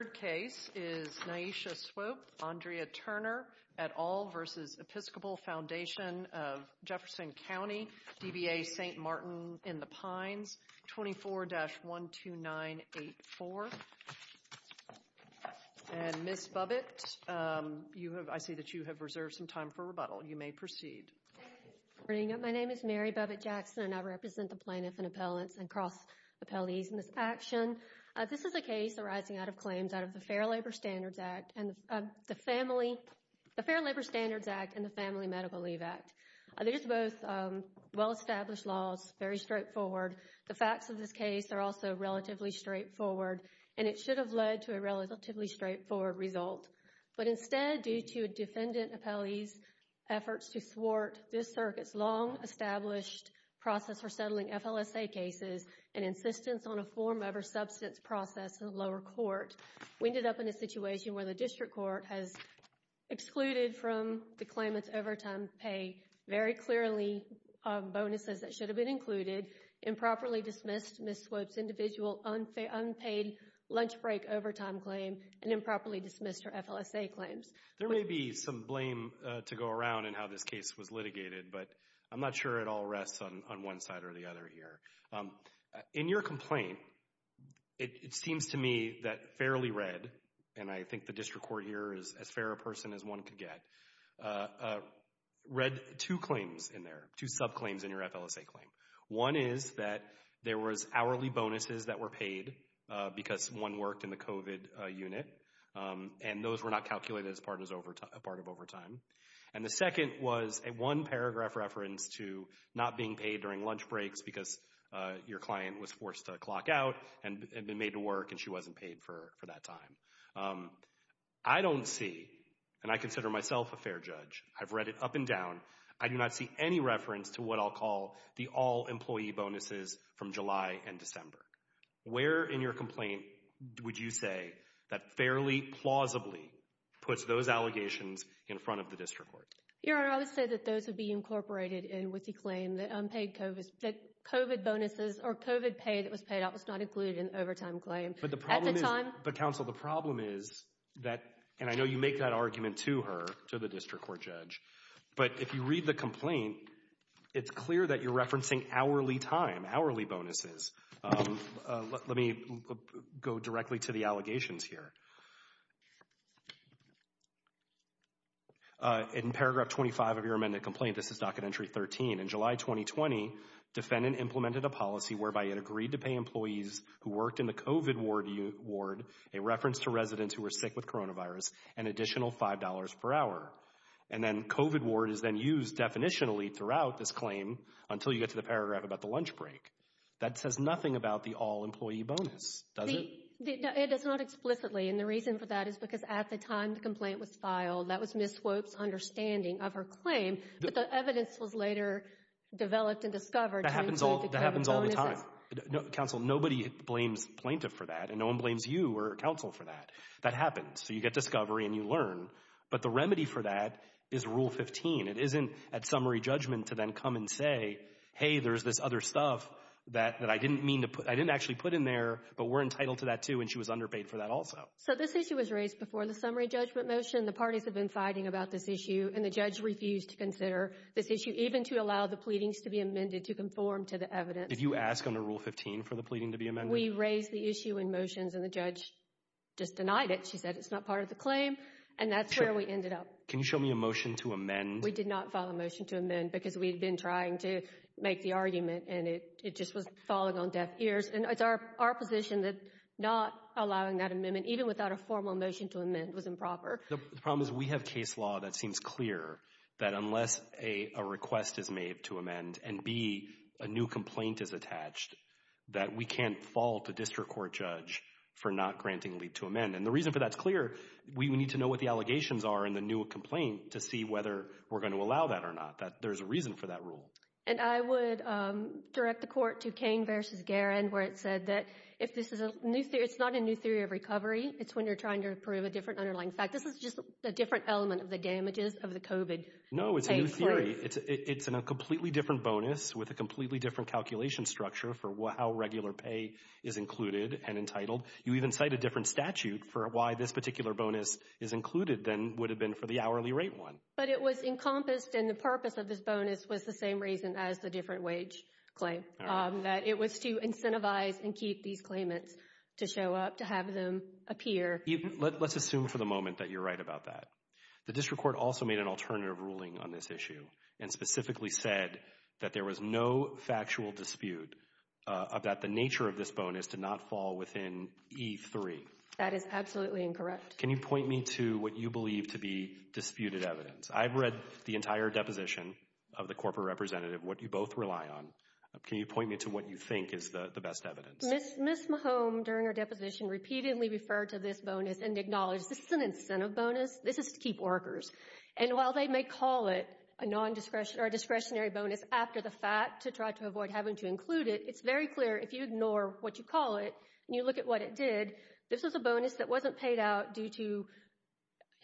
Third case is Nyesha Swope, Andrea Turner, et al. v. Episcopal Foundation of Jefferson County, DBA St. Martin-in-the-Pines, 24-12984. And Ms. Bubbitt, I see that you have reserved some time for rebuttal. You may proceed. Good morning. My name is Mary Bubbitt-Jackson and I represent the Plaintiff in Appellants and Cross Appellees in this action. This is a case arising out of claims out of the Fair Labor Standards Act and the Family Medical Leave Act. These are both well-established laws, very straightforward. The facts of this case are also relatively straightforward and it should have led to a relatively straightforward result. But instead, due to a defendant appellee's efforts to thwart this circuit's long-established process for settling FLSA cases and insistence on a form over substance process in the lower court, we ended up in a situation where the district court has excluded from the claimant's overtime pay very clearly bonuses that should have been included, improperly dismissed Ms. Swope's individual unpaid lunch break overtime claim, and improperly dismissed her FLSA claims. There may be some blame to go around in how this case was litigated, but I'm not sure it all rests on one side or the other here. In your complaint, it seems to me that fairly read, and I think the district court here is as fair a person as one could get, read two claims in there, two subclaims in your FLSA claim. One is that there was hourly bonuses that were paid because one worked in the COVID unit and those were not calculated as part of overtime. And the second was a one-paragraph reference to not being paid during lunch breaks because your client was forced to clock out and had been made to work and she wasn't paid for that time. I don't see, and I consider myself a fair judge, I've read it up and down, I do not see any reference to what I'll call the all-employee bonuses from July and December. Where in your complaint would you say that fairly, plausibly, puts those allegations in front of the district court? Your Honor, I would say that those would be incorporated in with the claim that unpaid COVID, that COVID bonuses or COVID pay that was paid out was not included in the overtime claim at the time. But the problem is, but counsel, the problem is that, and I know you make that argument to her, to the district court judge, but if you read the complaint, it's clear that you're referencing hourly time, hourly bonuses. Let me go directly to the allegations here. In paragraph 25 of your amended complaint, this is docket entry 13, in July 2020, defendant implemented a policy whereby it agreed to pay employees who worked in the COVID ward a reference to residents who were sick with coronavirus an additional $5 per hour. And then COVID ward is then used definitionally throughout this claim until you get to the paragraph about the lunch break. That says nothing about the all employee bonus, does it? It does not explicitly, and the reason for that is because at the time the complaint was filed, that was Ms. Swope's understanding of her claim, but the evidence was later developed and discovered. That happens all the time. Counsel, nobody blames plaintiff for that and no one blames you or counsel for that. That happens. So you get discovery and you learn, but the remedy for that is rule 15. It isn't at summary judgment to then come and say, hey, there's this other stuff that I didn't mean to put, I didn't actually put in there, but we're entitled to that too. And she was underpaid for that also. So this issue was raised before the summary judgment motion. The parties have been fighting about this issue and the judge refused to consider this issue even to allow the pleadings to be amended to conform to the evidence. Did you ask under rule 15 for the pleading to be amended? We raised the issue in motions and the judge just denied it. She said it's not part of the claim and that's where we ended up. Can you show me a motion to amend? We did not file a motion to amend because we'd been trying to make the argument and it just was falling on deaf ears. And it's our position that not allowing that amendment, even without a formal motion to amend, was improper. The problem is we have case law that seems clear that unless a request is made to amend and B, a new complaint is attached, that we can't fault a district court judge for not granting leave to amend. And the reason for that's clear, we need to know what the allegations are in the new complaint to see whether we're going to allow that or not, that there's a reason for that rule. And I would direct the court to Cain v. Guerin, where it said that if this is a new theory, it's not a new theory of recovery, it's when you're trying to prove a different underlying fact. This is just a different element of the damages of the COVID pay for it. No, it's a new theory. It's a completely different bonus with a completely different calculation structure for how regular pay is included and entitled. You even cite a different statute for why this particular bonus is included than would have been for the hourly rate one. But it was encompassed and the purpose of this bonus was the same reason as the different wage claim, that it was to incentivize and keep these claimants to show up, to have them appear. Let's assume for the moment that you're right about that. The district court also made an alternative ruling on this issue and specifically said that there was no factual dispute about the nature of this bonus to not fall within E3. That is absolutely incorrect. Can you point me to what you believe to be disputed evidence? I've read the entire deposition of the corporate representative, what you both rely on. Can you point me to what you think is the best evidence? Ms. Mahome, during her deposition, repeatedly referred to this bonus and acknowledged this is an incentive bonus, this is to keep workers. And while they may call it a discretionary bonus after the fact to try to avoid having to include it, it's very clear if you ignore what you call it and you look at what it did, this is a bonus that wasn't paid out due to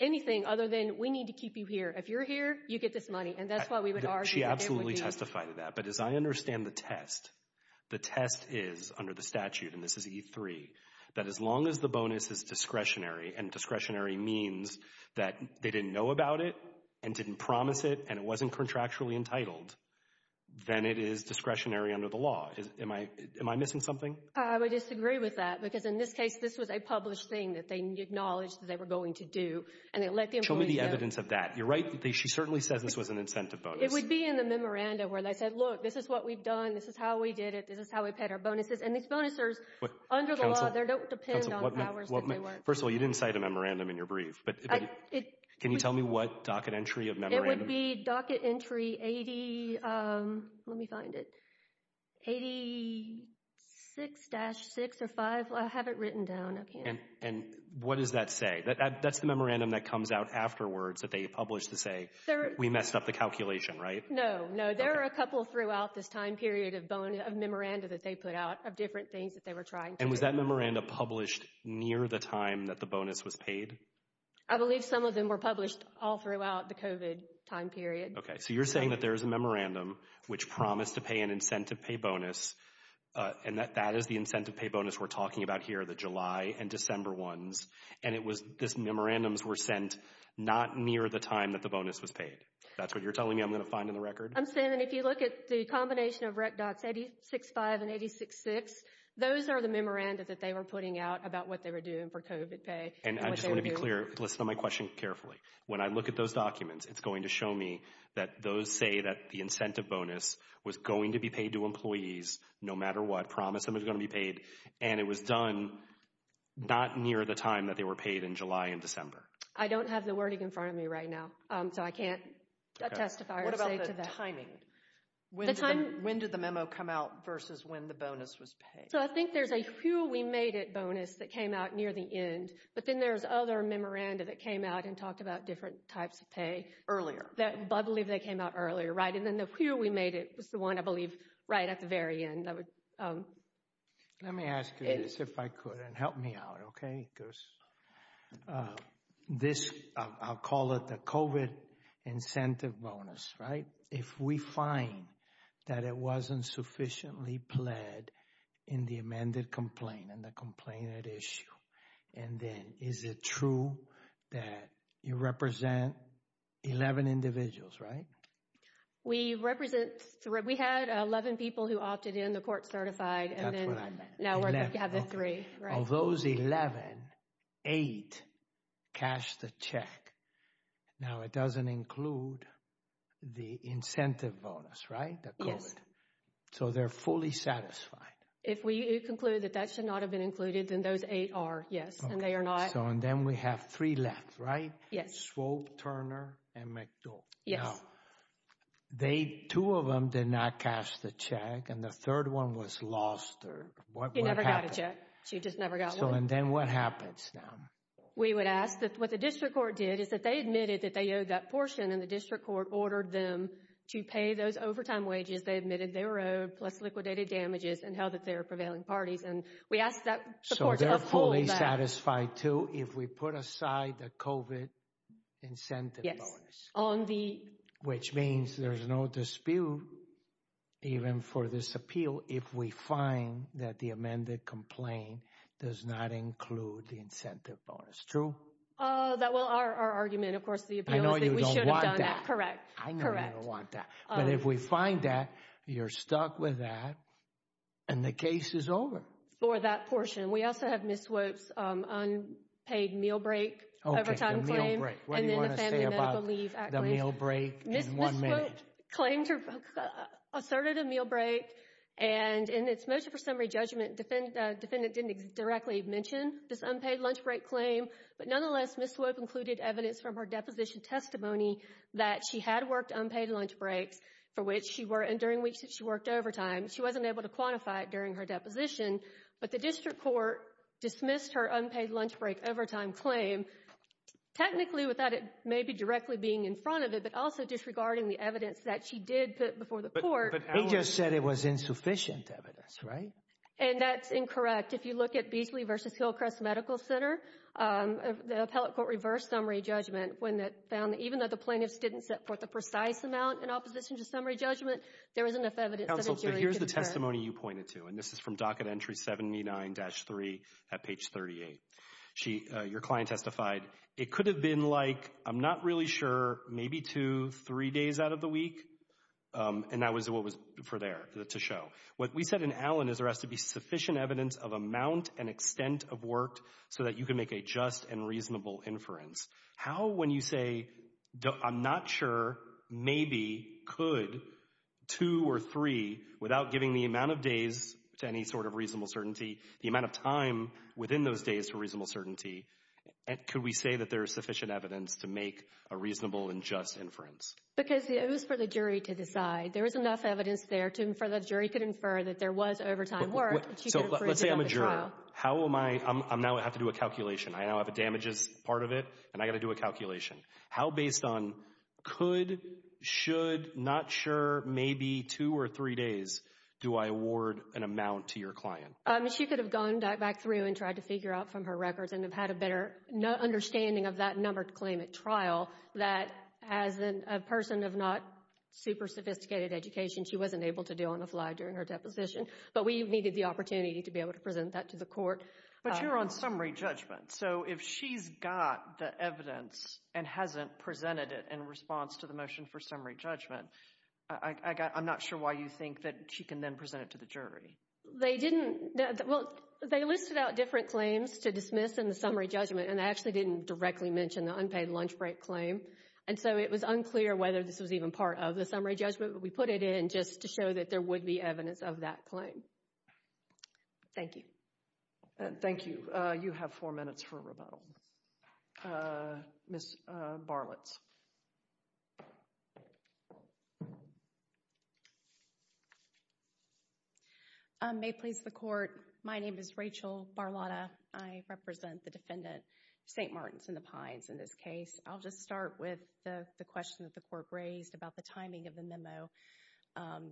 anything other than we need to keep you here. If you're here, you get this money. And that's why we would argue that it would be. She absolutely testified to that. But as I understand the test, the test is under the statute, and this is E3, that as long as the bonus is discretionary, and discretionary means that they didn't know about it and didn't promise it and it wasn't contractually entitled, then it is discretionary under the law. Am I missing something? I would disagree with that, because in this case, this was a published thing that they acknowledged that they were going to do, and they let the employees know. Show me the evidence of that. You're right. She certainly says this was an incentive bonus. It would be in the memorandum where they said, look, this is what we've done, this is how we did it, this is how we paid our bonuses. And these bonuses, under the law, they don't depend on the powers that they were. First of all, you didn't cite a memorandum in your brief, but can you tell me what docket entry of memorandum? It would be docket entry 80, let me find it, 86-6 or 5, I have it written down up here. And what does that say? That's the memorandum that comes out afterwards that they publish to say, we messed up the calculation, right? No, no. There are a couple throughout this time period of memorandum that they put out of different things that they were trying to do. And was that memorandum published near the time that the bonus was paid? I believe some of them were published all throughout the COVID time period. Okay, so you're saying that there's a memorandum which promised to pay an incentive pay bonus and that that is the incentive pay bonus we're talking about here, the July and December ones. And it was, this memorandums were sent not near the time that the bonus was paid. That's what you're telling me I'm going to find in the record? I'm saying that if you look at the combination of rec dots 80-6-5 and 80-6-6, those are the memoranda that they were putting out about what they were doing for COVID pay. And I just want to be clear. Listen to my question carefully. When I look at those documents, it's going to show me that those say that the incentive bonus was going to be paid to employees no matter what, promised them it was going to be paid. And it was done not near the time that they were paid in July and December. I don't have the wording in front of me right now, so I can't testify or say to that. What about the timing? When did the memo come out versus when the bonus was paid? So I think there's a who we made it bonus that came out near the end, but then there's other memoranda that came out and talked about different types of pay earlier that I believe they came out earlier. Right. And then the who we made it was the one I believe right at the very end that would. Let me ask you this if I could and help me out. Okay. Because this, I'll call it the COVID incentive bonus, right? If we find that it wasn't sufficiently pled in the amended complaint and the complainant issue, and then is it true that you represent 11 individuals, right? We represent three. We had 11 people who opted in, the court certified, and then now we have the three, right? Of those 11, eight cashed the check. Now it doesn't include the incentive bonus, right? The COVID. Yes. So they're fully satisfied. If we conclude that that should not have been included, then those eight are, yes, and they are not. Okay. So and then we have three left, right? Yes. Swope, Turner, and McDowell. Yes. Now, they, two of them did not cash the check and the third one was lost or what would happen? He never got a check. She just never got one. So and then what happens now? We would ask that what the district court did is that they admitted that they owed that portion and the district court ordered them to pay those overtime wages they admitted they were owed plus liquidated damages and held that they were prevailing parties and we asked that the court to uphold that. So they're fully satisfied too if we put aside the COVID incentive bonus? On the- Which means there's no dispute even for this appeal if we find that the amended complaint does not include the incentive bonus. That, well, our argument, of course, the appeal is that we should have done that. Correct. Correct. I know you don't want that. But if we find that, you're stuck with that and the case is over. For that portion. We also have Ms. Swope's unpaid meal break overtime claim and then the family medical leave act claim. What do you want to say about the meal break in one minute? Ms. Swope claimed, asserted a meal break and in its motion for summary judgment, defendant didn't directly mention this unpaid lunch break claim, but nonetheless, Ms. Swope included evidence from her deposition testimony that she had worked unpaid lunch breaks for which she were, and during weeks that she worked overtime, she wasn't able to quantify it during her deposition. But the district court dismissed her unpaid lunch break overtime claim, technically without it maybe directly being in front of it, but also disregarding the evidence that she did put before the court. But he just said it was insufficient evidence, right? And that's incorrect. If you look at Beasley v. Hillcrest Medical Center, the appellate court reversed summary judgment when it found that even though the plaintiffs didn't set forth a precise amount in opposition to summary judgment, there wasn't enough evidence that a jury could have said. Counsel, here's the testimony you pointed to, and this is from docket entry 79-3 at page 38. Your client testified, it could have been like, I'm not really sure, maybe two, three days out of the week, and that was what was for there to show. What we said in Allen is there has to be sufficient evidence of amount and extent of work so that you can make a just and reasonable inference. How when you say, I'm not sure, maybe, could, two or three, without giving the amount of days to any sort of reasonable certainty, the amount of time within those days to reasonable certainty, could we say that there is sufficient evidence to make a reasonable and just inference? Because it was for the jury to decide. There was enough evidence there for the jury to infer that there was overtime work. So let's say I'm a juror. How am I, I now have to do a calculation. I now have a damages part of it, and I've got to do a calculation. How based on could, should, not sure, maybe two or three days do I award an amount to your client? She could have gone back through and tried to figure out from her records and had a better understanding of that numbered claim at trial that as a person of not super sophisticated education she wasn't able to do on the fly during her deposition. But we needed the opportunity to be able to present that to the court. But you're on summary judgment. So if she's got the evidence and hasn't presented it in response to the motion for summary judgment, I'm not sure why you think that she can then present it to the jury. They didn't, well, they listed out different claims to dismiss in the summary judgment, and they actually didn't directly mention the unpaid lunch break claim. And so it was unclear whether this was even part of the summary judgment, but we put it in just to show that there would be evidence of that claim. Thank you. Thank you. You have four minutes for rebuttal. Ms. Barletz. May it please the court. My name is Rachel Barleta. I represent the defendant, St. Martins and the Pines, in this case. I'll just start with the question that the court raised about the timing of the memo.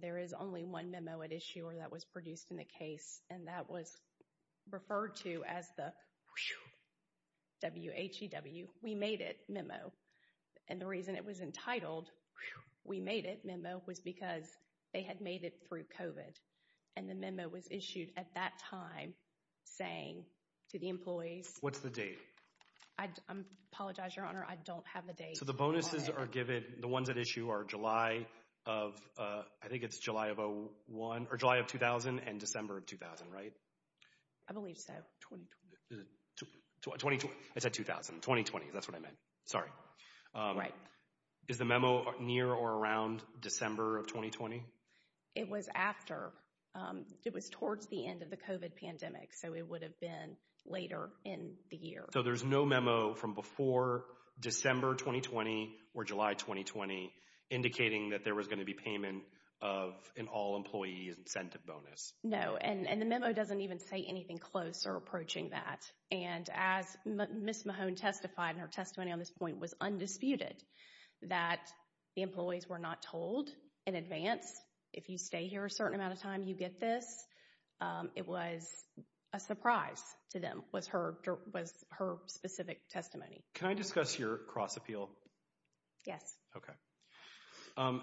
There is only one memo at issue or that was produced in the case, and that was referred to as the whew, W-H-E-W, we made it memo. And the reason it was entitled whew, we made it memo was because they had made it through COVID. And the memo was issued at that time saying to the employees. What's the date? I apologize, Your Honor. I don't have the date. So the bonuses are given, the ones at issue are July of, I think it's July of 2001 or July of 2000 and December of 2000, right? I believe so. 2020. 2020. I said 2000. 2020. That's what I meant. Sorry. Right. Is the memo near or around December of 2020? It was after, it was towards the end of the COVID pandemic, so it would have been later in the year. So there's no memo from before December 2020 or July 2020 indicating that there was going to be payment of an all employees incentive bonus? No. And the memo doesn't even say anything close or approaching that. And as Ms. Mahone testified, and her testimony on this point was undisputed, that the employees were not told in advance. If you stay here a certain amount of time, you get this. It was a surprise to them, was her specific testimony. Can I discuss your cross-appeal? Yes. Okay.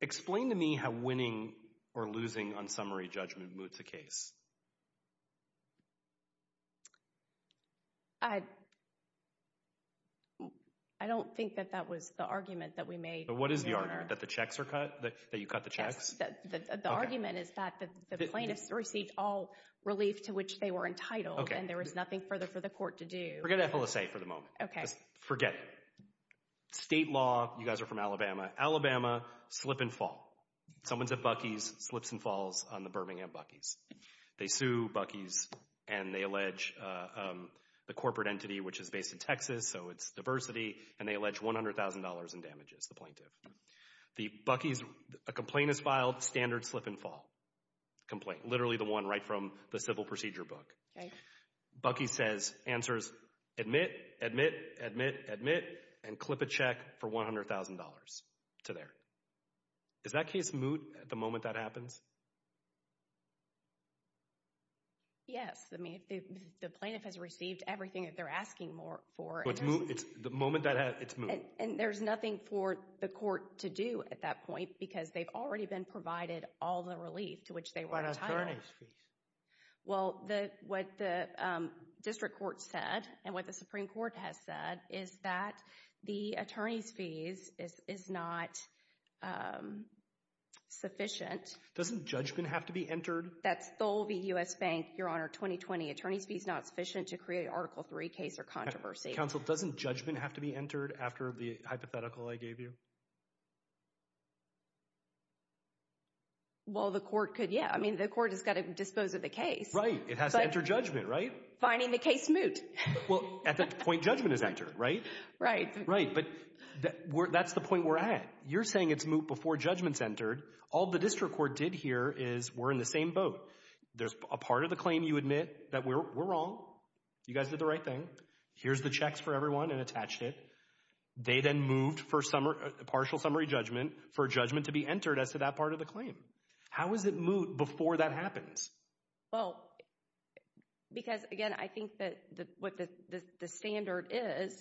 Explain to me how winning or losing on summary judgment moots the case. I don't think that that was the argument that we made. But what is the argument? That the checks are cut? That you cut the checks? Yes. The argument is that the plaintiffs received all relief to which they were entitled and there was nothing further for the court to do. Forget FLSA for the moment. Okay. Forget it. State law. You guys are from Alabama. Alabama, slip and fall. Someone's at Buc-ee's, slips and falls on the Birmingham Buc-ee's. They sue Buc-ee's and they allege the corporate entity, which is based in Texas, so it's diversity, and they allege $100,000 in damages, the plaintiff. The Buc-ee's, a complaint is filed, standard slip and fall complaint, literally the one right from the civil procedure book. Buc-ee's says, answers, admit, admit, admit, admit, and clip a check for $100,000 to there. Is that case moot at the moment that happens? Yes. I mean, the plaintiff has received everything that they're asking for. It's moot. The moment that happens, it's moot. And there's nothing for the court to do at that point because they've already been provided all the relief to which they were entitled. What about attorney's fees? Well, what the district court said and what the Supreme Court has said is that the attorney's fees is not sufficient. Doesn't judgment have to be entered? That's Tholby U.S. Bank, Your Honor, 2020. Attorney's fees not sufficient to create Article III case or controversy. Counsel, doesn't judgment have to be entered after the hypothetical I gave you? Well, the court could, yeah. I mean, the court has got to dispose of the case. Right. It has to enter judgment, right? Finding the case moot. Well, at that point, judgment is entered, right? Right. Right. But that's the point we're at. You're saying it's moot before judgment's entered. All the district court did here is we're in the same boat. There's a part of the claim you admit that we're wrong. You guys did the right thing. Here's the checks for everyone and attached it. They then moved for partial summary judgment for judgment to be entered as to that part of the claim. How is it moot before that happens? Well, because, again, I think that what the standard is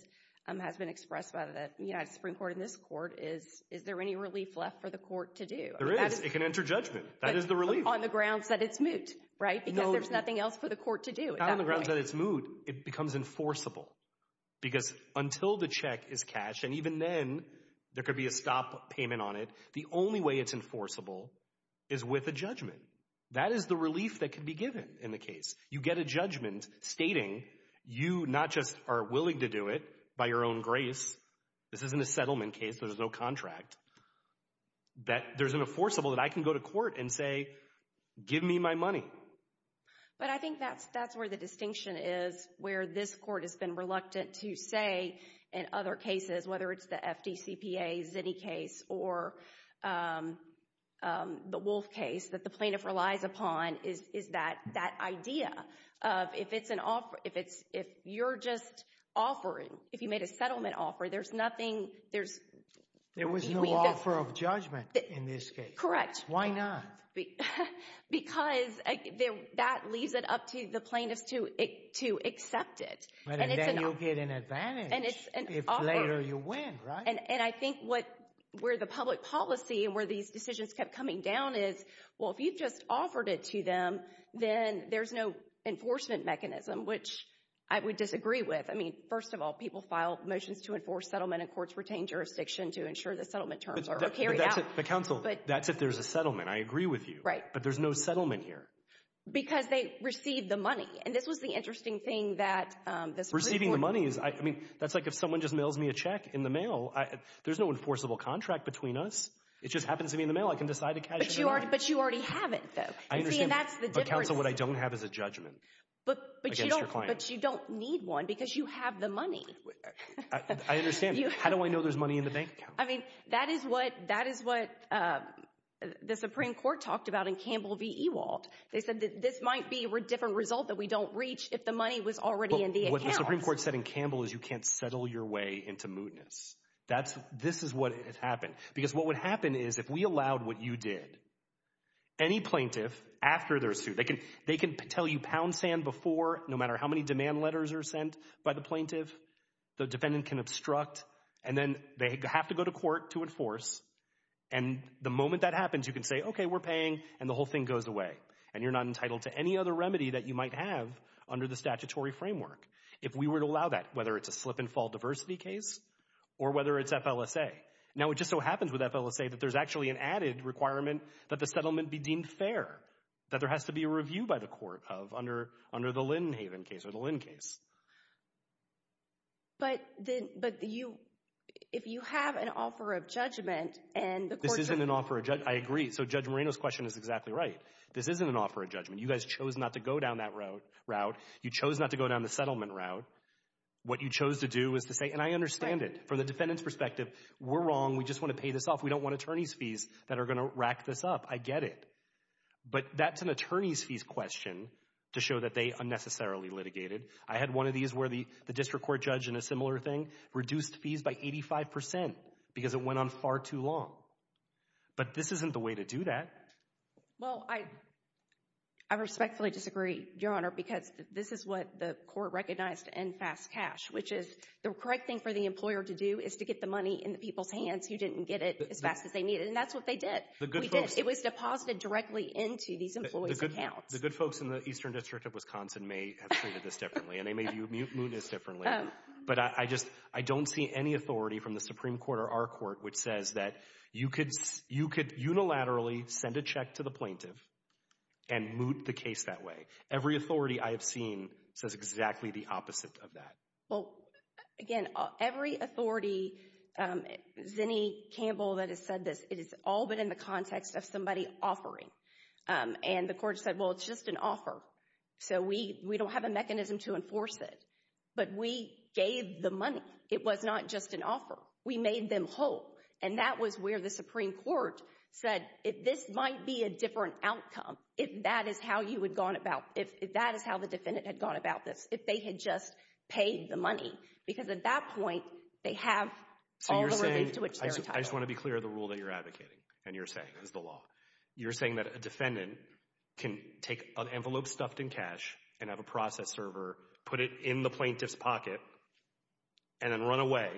has been expressed by the United Supreme Court in this court is, is there any relief left for the court to do? There is. It can enter judgment. That is the relief. On the grounds that it's moot, right? Because there's nothing else for the court to do. Not on the grounds that it's moot. On the grounds that it's moot, it becomes enforceable. Because until the check is cashed, and even then there could be a stop payment on it, the only way it's enforceable is with a judgment. That is the relief that could be given in the case. You get a judgment stating you not just are willing to do it by your own grace. This isn't a settlement case. There's no contract. That there's an enforceable that I can go to court and say, give me my money. But I think that's where the distinction is, where this court has been reluctant to say in other cases, whether it's the FDCPA, Zinni case, or the Wolf case, that the plaintiff relies upon is that idea of if it's an offer, if you're just offering, if you made a settlement offer, there's nothing, there's... There was no offer of judgment in this case. Correct. Why not? Because that leaves it up to the plaintiff to accept it. And then you'll get an advantage if later you win, right? And I think where the public policy and where these decisions kept coming down is, well, if you've just offered it to them, then there's no enforcement mechanism, which I would disagree with. I mean, first of all, people file motions to enforce settlement in courts-retained jurisdiction to ensure the settlement terms are carried out. The counsel, that's if there's a settlement. I agree with you. But there's no settlement here. Because they received the money. And this was the interesting thing that this... Receiving the money is... I mean, that's like if someone just mails me a check in the mail, there's no enforceable contract between us. It just happens to be in the mail. I can decide to cash in the money. But you already have it, though. I understand. See, and that's the difference. But counsel, what I don't have is a judgment against your client. But you don't need one because you have the money. I understand. How do I know there's money in the bank? I mean, that is what the Supreme Court talked about in Campbell v. Ewald. They said that this might be a different result that we don't reach if the money was already in the accounts. But what the Supreme Court said in Campbell is you can't settle your way into mootness. This is what has happened. Because what would happen is if we allowed what you did, any plaintiff, after their suit, they can tell you pound sand before, no matter how many demand letters are sent by the plaintiff. The defendant can obstruct. And then they have to go to court to enforce. And the moment that happens, you can say, okay, we're paying, and the whole thing goes away. And you're not entitled to any other remedy that you might have under the statutory framework if we were to allow that, whether it's a slip-and-fall diversity case or whether it's FLSA. Now it just so happens with FLSA that there's actually an added requirement that the settlement be deemed fair, that there has to be a review by the court of under the Lynn Haven case or the Lynn case. But then, but you, if you have an offer of judgment, and the court says... This isn't an offer of judgment. I agree. So Judge Moreno's question is exactly right. This isn't an offer of judgment. You guys chose not to go down that route. You chose not to go down the settlement route. What you chose to do is to say, and I understand it, from the defendant's perspective, we're wrong. We just want to pay this off. We don't want attorney's fees that are going to rack this up. I get it. But that's an attorney's fees question to show that they unnecessarily litigated. I had one of these where the district court judge in a similar thing reduced fees by 85% because it went on far too long. But this isn't the way to do that. Well, I respectfully disagree, Your Honor, because this is what the court recognized to end fast cash, which is the correct thing for the employer to do is to get the money in the people's hands who didn't get it as fast as they needed. And that's what they did. We did. It was deposited directly into these employees' accounts. The good folks in the Eastern District of Wisconsin may have treated this differently and they may have mooted this differently. But I just, I don't see any authority from the Supreme Court or our court which says that you could unilaterally send a check to the plaintiff and moot the case that way. Every authority I have seen says exactly the opposite of that. Well, again, every authority, Zinni, Campbell that has said this, it has all been in the context of somebody offering. And the court said, well, it's just an offer. So we don't have a mechanism to enforce it. But we gave the money. It was not just an offer. We made them whole. And that was where the Supreme Court said, if this might be a different outcome, if that is how you would have gone about, if that is how the defendant had gone about this, if they had just paid the money. Because at that point, they have all the relief to which they're entitled. I just want to be clear of the rule that you're advocating and you're saying is the law. You're saying that a defendant can take an envelope stuffed in cash and have a process server, put it in the plaintiff's pocket, and then run away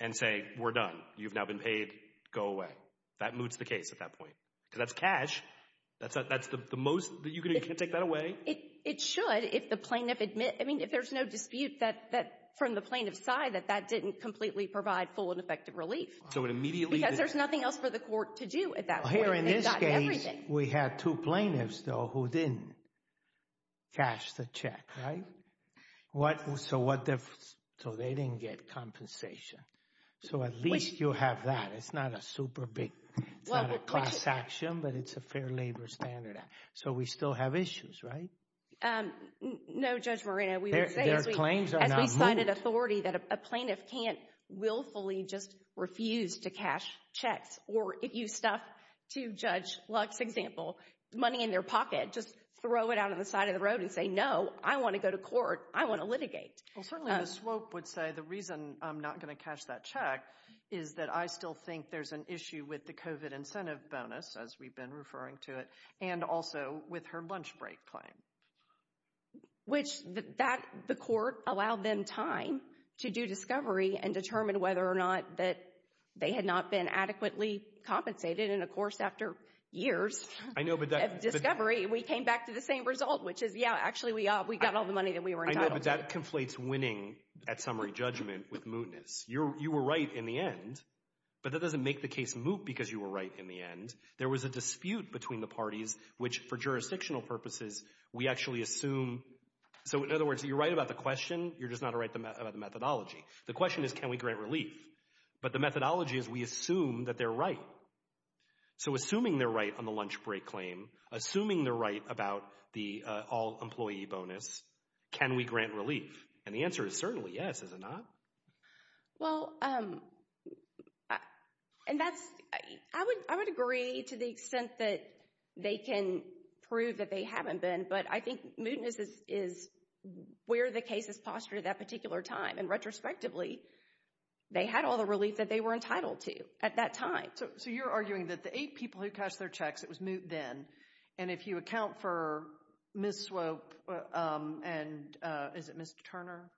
and say, we're done. You've now been paid. Go away. That moots the case at that point. Because that's cash. That's the most that you can take that away. It should if the plaintiff admits, I mean, if there's no dispute that from the plaintiff's side that that didn't completely provide full and effective relief. So it immediately. Because there's nothing else for the court to do at that point. Here in this case, we had two plaintiffs, though, who didn't cash the check, right? So what, so they didn't get compensation. So at least you have that. It's not a super big, it's not a class action, but it's a fair labor standard. So we still have issues, right? No, Judge Moreno, we would say, as we sign an authority that a plaintiff can't willfully just refuse to cash checks, or if you stuff, to Judge Lux's example, money in their pocket, just throw it out on the side of the road and say, no, I want to go to court. I want to litigate. Well, certainly the SWOPE would say, the reason I'm not going to cash that check is that I still think there's an issue with the COVID incentive bonus, as we've been referring to it, and also with her lunch break claim. Which, that, the court allowed them time to do discovery and determine whether or not that they had not been adequately compensated, and of course, after years of discovery, we came back to the same result, which is, yeah, actually, we got all the money that we were entitled to. I know, but that conflates winning at summary judgment with mootness. You were right in the end, but that doesn't make the case moot because you were right in the end. There was a dispute between the parties, which, for jurisdictional purposes, we actually assume, so in other words, you're right about the question. You're just not right about the methodology. The question is, can we grant relief? But the methodology is, we assume that they're right. So assuming they're right on the lunch break claim, assuming they're right about the all-employee bonus, can we grant relief? And the answer is certainly yes, is it not? Well, and that's, I would agree to the extent that they can prove that they haven't been, but I think mootness is where the case is postured at that particular time, and retrospectively, they had all the relief that they were entitled to at that time. So you're arguing that the eight people who cashed their checks, it was moot then, and if you account for Ms. Swope and, is it Ms. Turner,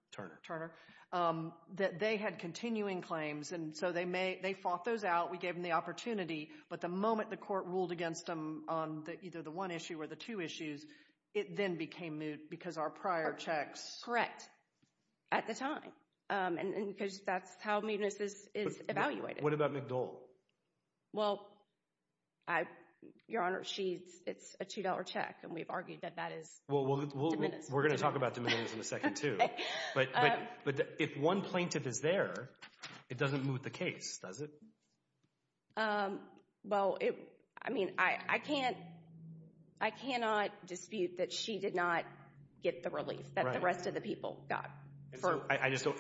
that they had continuing claims, and so they fought those out, we gave them the opportunity, but the moment the court ruled against them on either the one issue or the two issues, it then became moot because our prior checks... Correct, at the time, and because that's how mootness is evaluated. What about McDole? Well, Your Honor, it's a $2 check, and we've argued that that is diminished. We're going to talk about diminishing in a second, too, but if one plaintiff is there, it doesn't moot the case, does it? Well, I mean, I cannot dispute that she did not get the relief that the rest of the people got.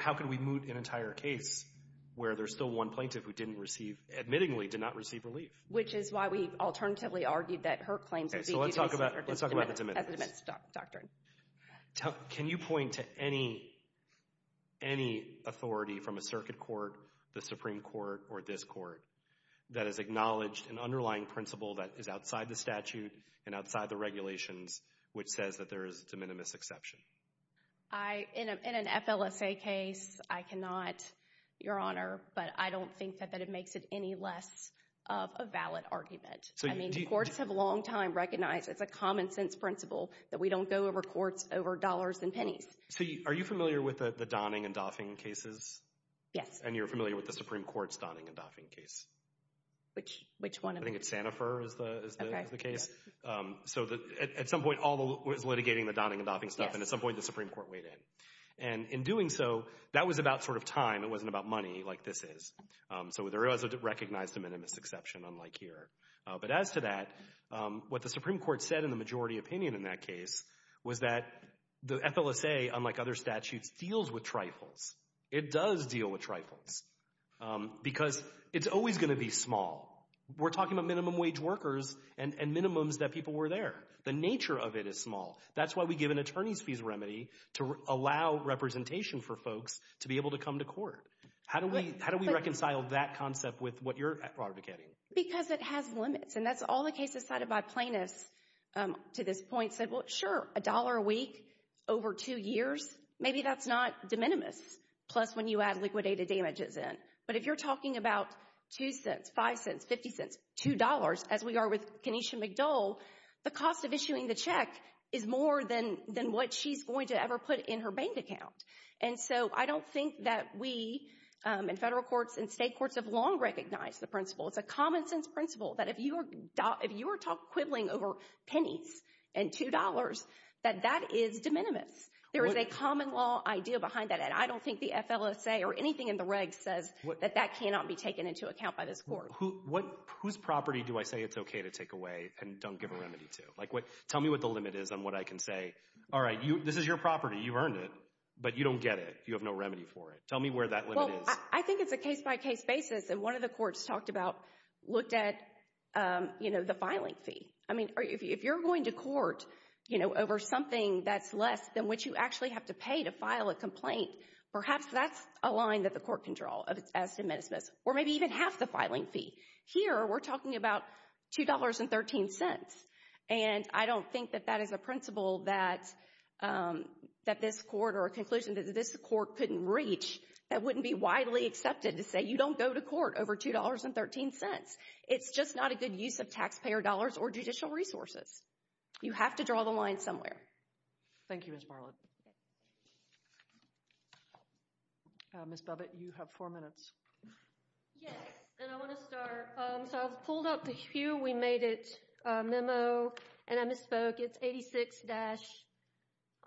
How can we moot an entire case where there's still one plaintiff who didn't receive, admittingly, did not receive relief? Which is why we've alternatively argued that her claims... Okay, so let's talk about the diminished.... as a diminished doctrine. Can you point to any authority from a circuit court, the Supreme Court, or this court, that has acknowledged an underlying principle that is outside the statute and outside the regulations which says that there is a de minimis exception? In an FLSA case, I cannot, Your Honor, but I don't think that it makes it any less of a valid argument. I mean, courts have a long time recognized as a common sense principle that we don't go over courts over dollars and pennies. Are you familiar with the Donning and Doffing cases? Yes. And you're familiar with the Supreme Court's Donning and Doffing case? Which one of them? I think it's Sanofur is the case. So at some point all was litigating the Donning and Doffing stuff, and at some point the Supreme Court weighed in. And in doing so, that was about sort of time. It wasn't about money like this is. So there is a recognized de minimis exception, unlike here. But as to that, what the Supreme Court said in the majority opinion in that case was that the FLSA, unlike other statutes, deals with trifles. It does deal with trifles. Because it's always going to be small. We're talking about minimum wage workers and minimums that people were there. The nature of it is small. That's why we give an attorney's fees remedy to allow representation for folks to be able to come to court. How do we reconcile that concept with what you're advocating? Because it has limits. And that's all the cases cited by plaintiffs to this point said, well, sure, a dollar a week over two years, maybe that's not de minimis, plus when you add liquidated damages in. But if you're talking about $0.02, $0.05, $0.50, $2, as we are with Kenesha McDole, the cost of issuing the check is more than what she's going to ever put in her bank account. And so I don't think that we in federal courts and state courts have long recognized the principle. It's a common-sense principle that if you are quibbling over pennies and $2, that that is de minimis. There is a common law idea behind that. I don't think the FLSA or anything in the regs says that that cannot be taken into account by this court. Whose property do I say it's okay to take away and don't give a remedy to? Like tell me what the limit is on what I can say. All right, this is your property. You've earned it. But you don't get it. You have no remedy for it. Tell me where that limit is. Well, I think it's a case-by-case basis. And one of the courts talked about looked at, you know, the filing fee. I mean, if you're going to court, you know, over something that's less than what you actually have to pay to file a complaint, perhaps that's a line that the court can draw as de minimis. Or maybe even half the filing fee. Here, we're talking about $2.13. And I don't think that that is a principle that this court or a conclusion that this court couldn't reach that wouldn't be widely accepted to say you don't go to court over $2.13. It doesn't make any sense. It's just not a good use of taxpayer dollars or judicial resources. You have to draw the line somewhere. Thank you, Ms. Marlott. Ms. Bubbitt, you have four minutes. Yes, and I want to start. So I pulled up the Hue We Made It memo, and I misspoke. It's 86-5.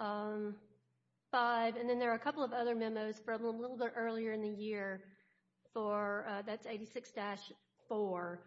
And then there are a couple of other memos from a little bit earlier in the year. That's 86-4.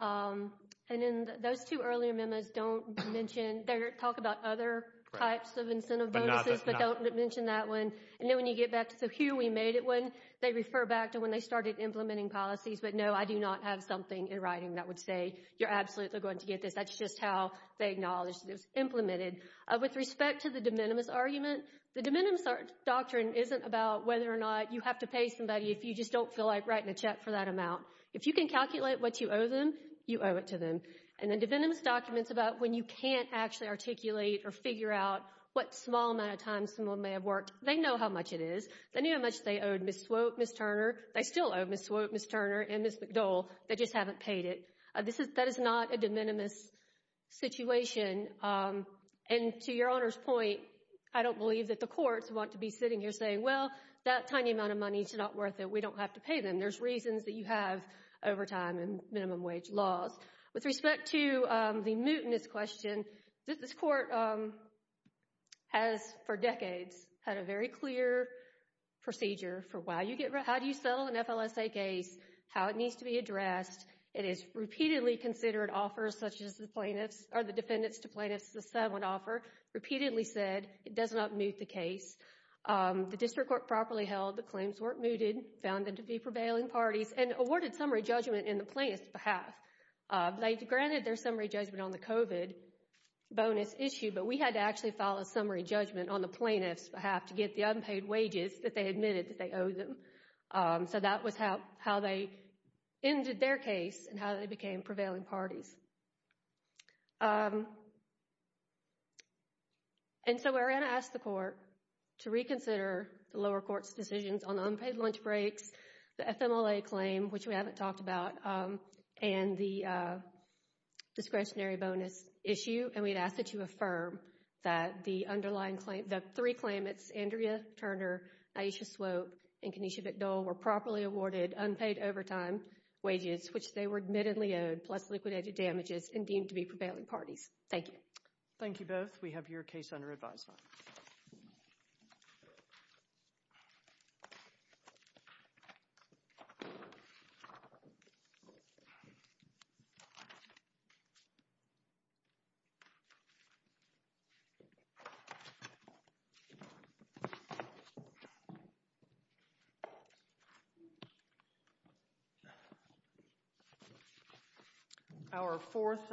And in those two earlier memos, they talk about other types of incentive bonuses but don't mention that one. And then when you get back to the Hue We Made It one, they refer back to when they started implementing policies. But, no, I do not have something in writing that would say you're absolutely going to get this. That's just how they acknowledged it was implemented. With respect to the de minimis argument, the de minimis doctrine isn't about whether or not you have to pay somebody if you just don't feel like writing a check for that amount. If you can calculate what you owe them, you owe it to them. And the de minimis document is about when you can't actually articulate or figure out what small amount of time someone may have worked. They know how much it is. They know how much they owed Ms. Swope, Ms. Turner. They still owe Ms. Swope, Ms. Turner, and Ms. McDole. They just haven't paid it. That is not a de minimis situation. And to your Honor's point, I don't believe that the courts want to be sitting here saying, well, that tiny amount of money is not worth it. We don't have to pay them. There's reasons that you have overtime and minimum wage laws. With respect to the mootness question, this court has for decades had a very clear procedure for how do you settle an FLSA case, how it needs to be addressed. It has repeatedly considered offers such as the plaintiffs or the defendants to plaintiffs the sub would offer, repeatedly said it does not moot the case. The district court properly held the claims weren't mooted, found them to be prevailing parties, and awarded summary judgment in the plaintiff's behalf. They granted their summary judgment on the COVID bonus issue, but we had to actually file a summary judgment on the plaintiff's behalf to get the unpaid wages that they admitted that they owed them. So that was how they ended their case and how they became prevailing parties. And so we're going to ask the court to reconsider the lower court's decisions on unpaid lunch breaks, the FMLA claim, which we haven't talked about, and the discretionary bonus issue. And we'd ask that you affirm that the underlying claim, the three claimants, Andrea Turner, Aisha Swope, and Kenesha McDowell, were properly awarded unpaid overtime wages, which they were admittedly owed, plus liquidated damages, and deemed to be prevailing parties. Thank you. Thank you both. We have your case under advisement. Thank you.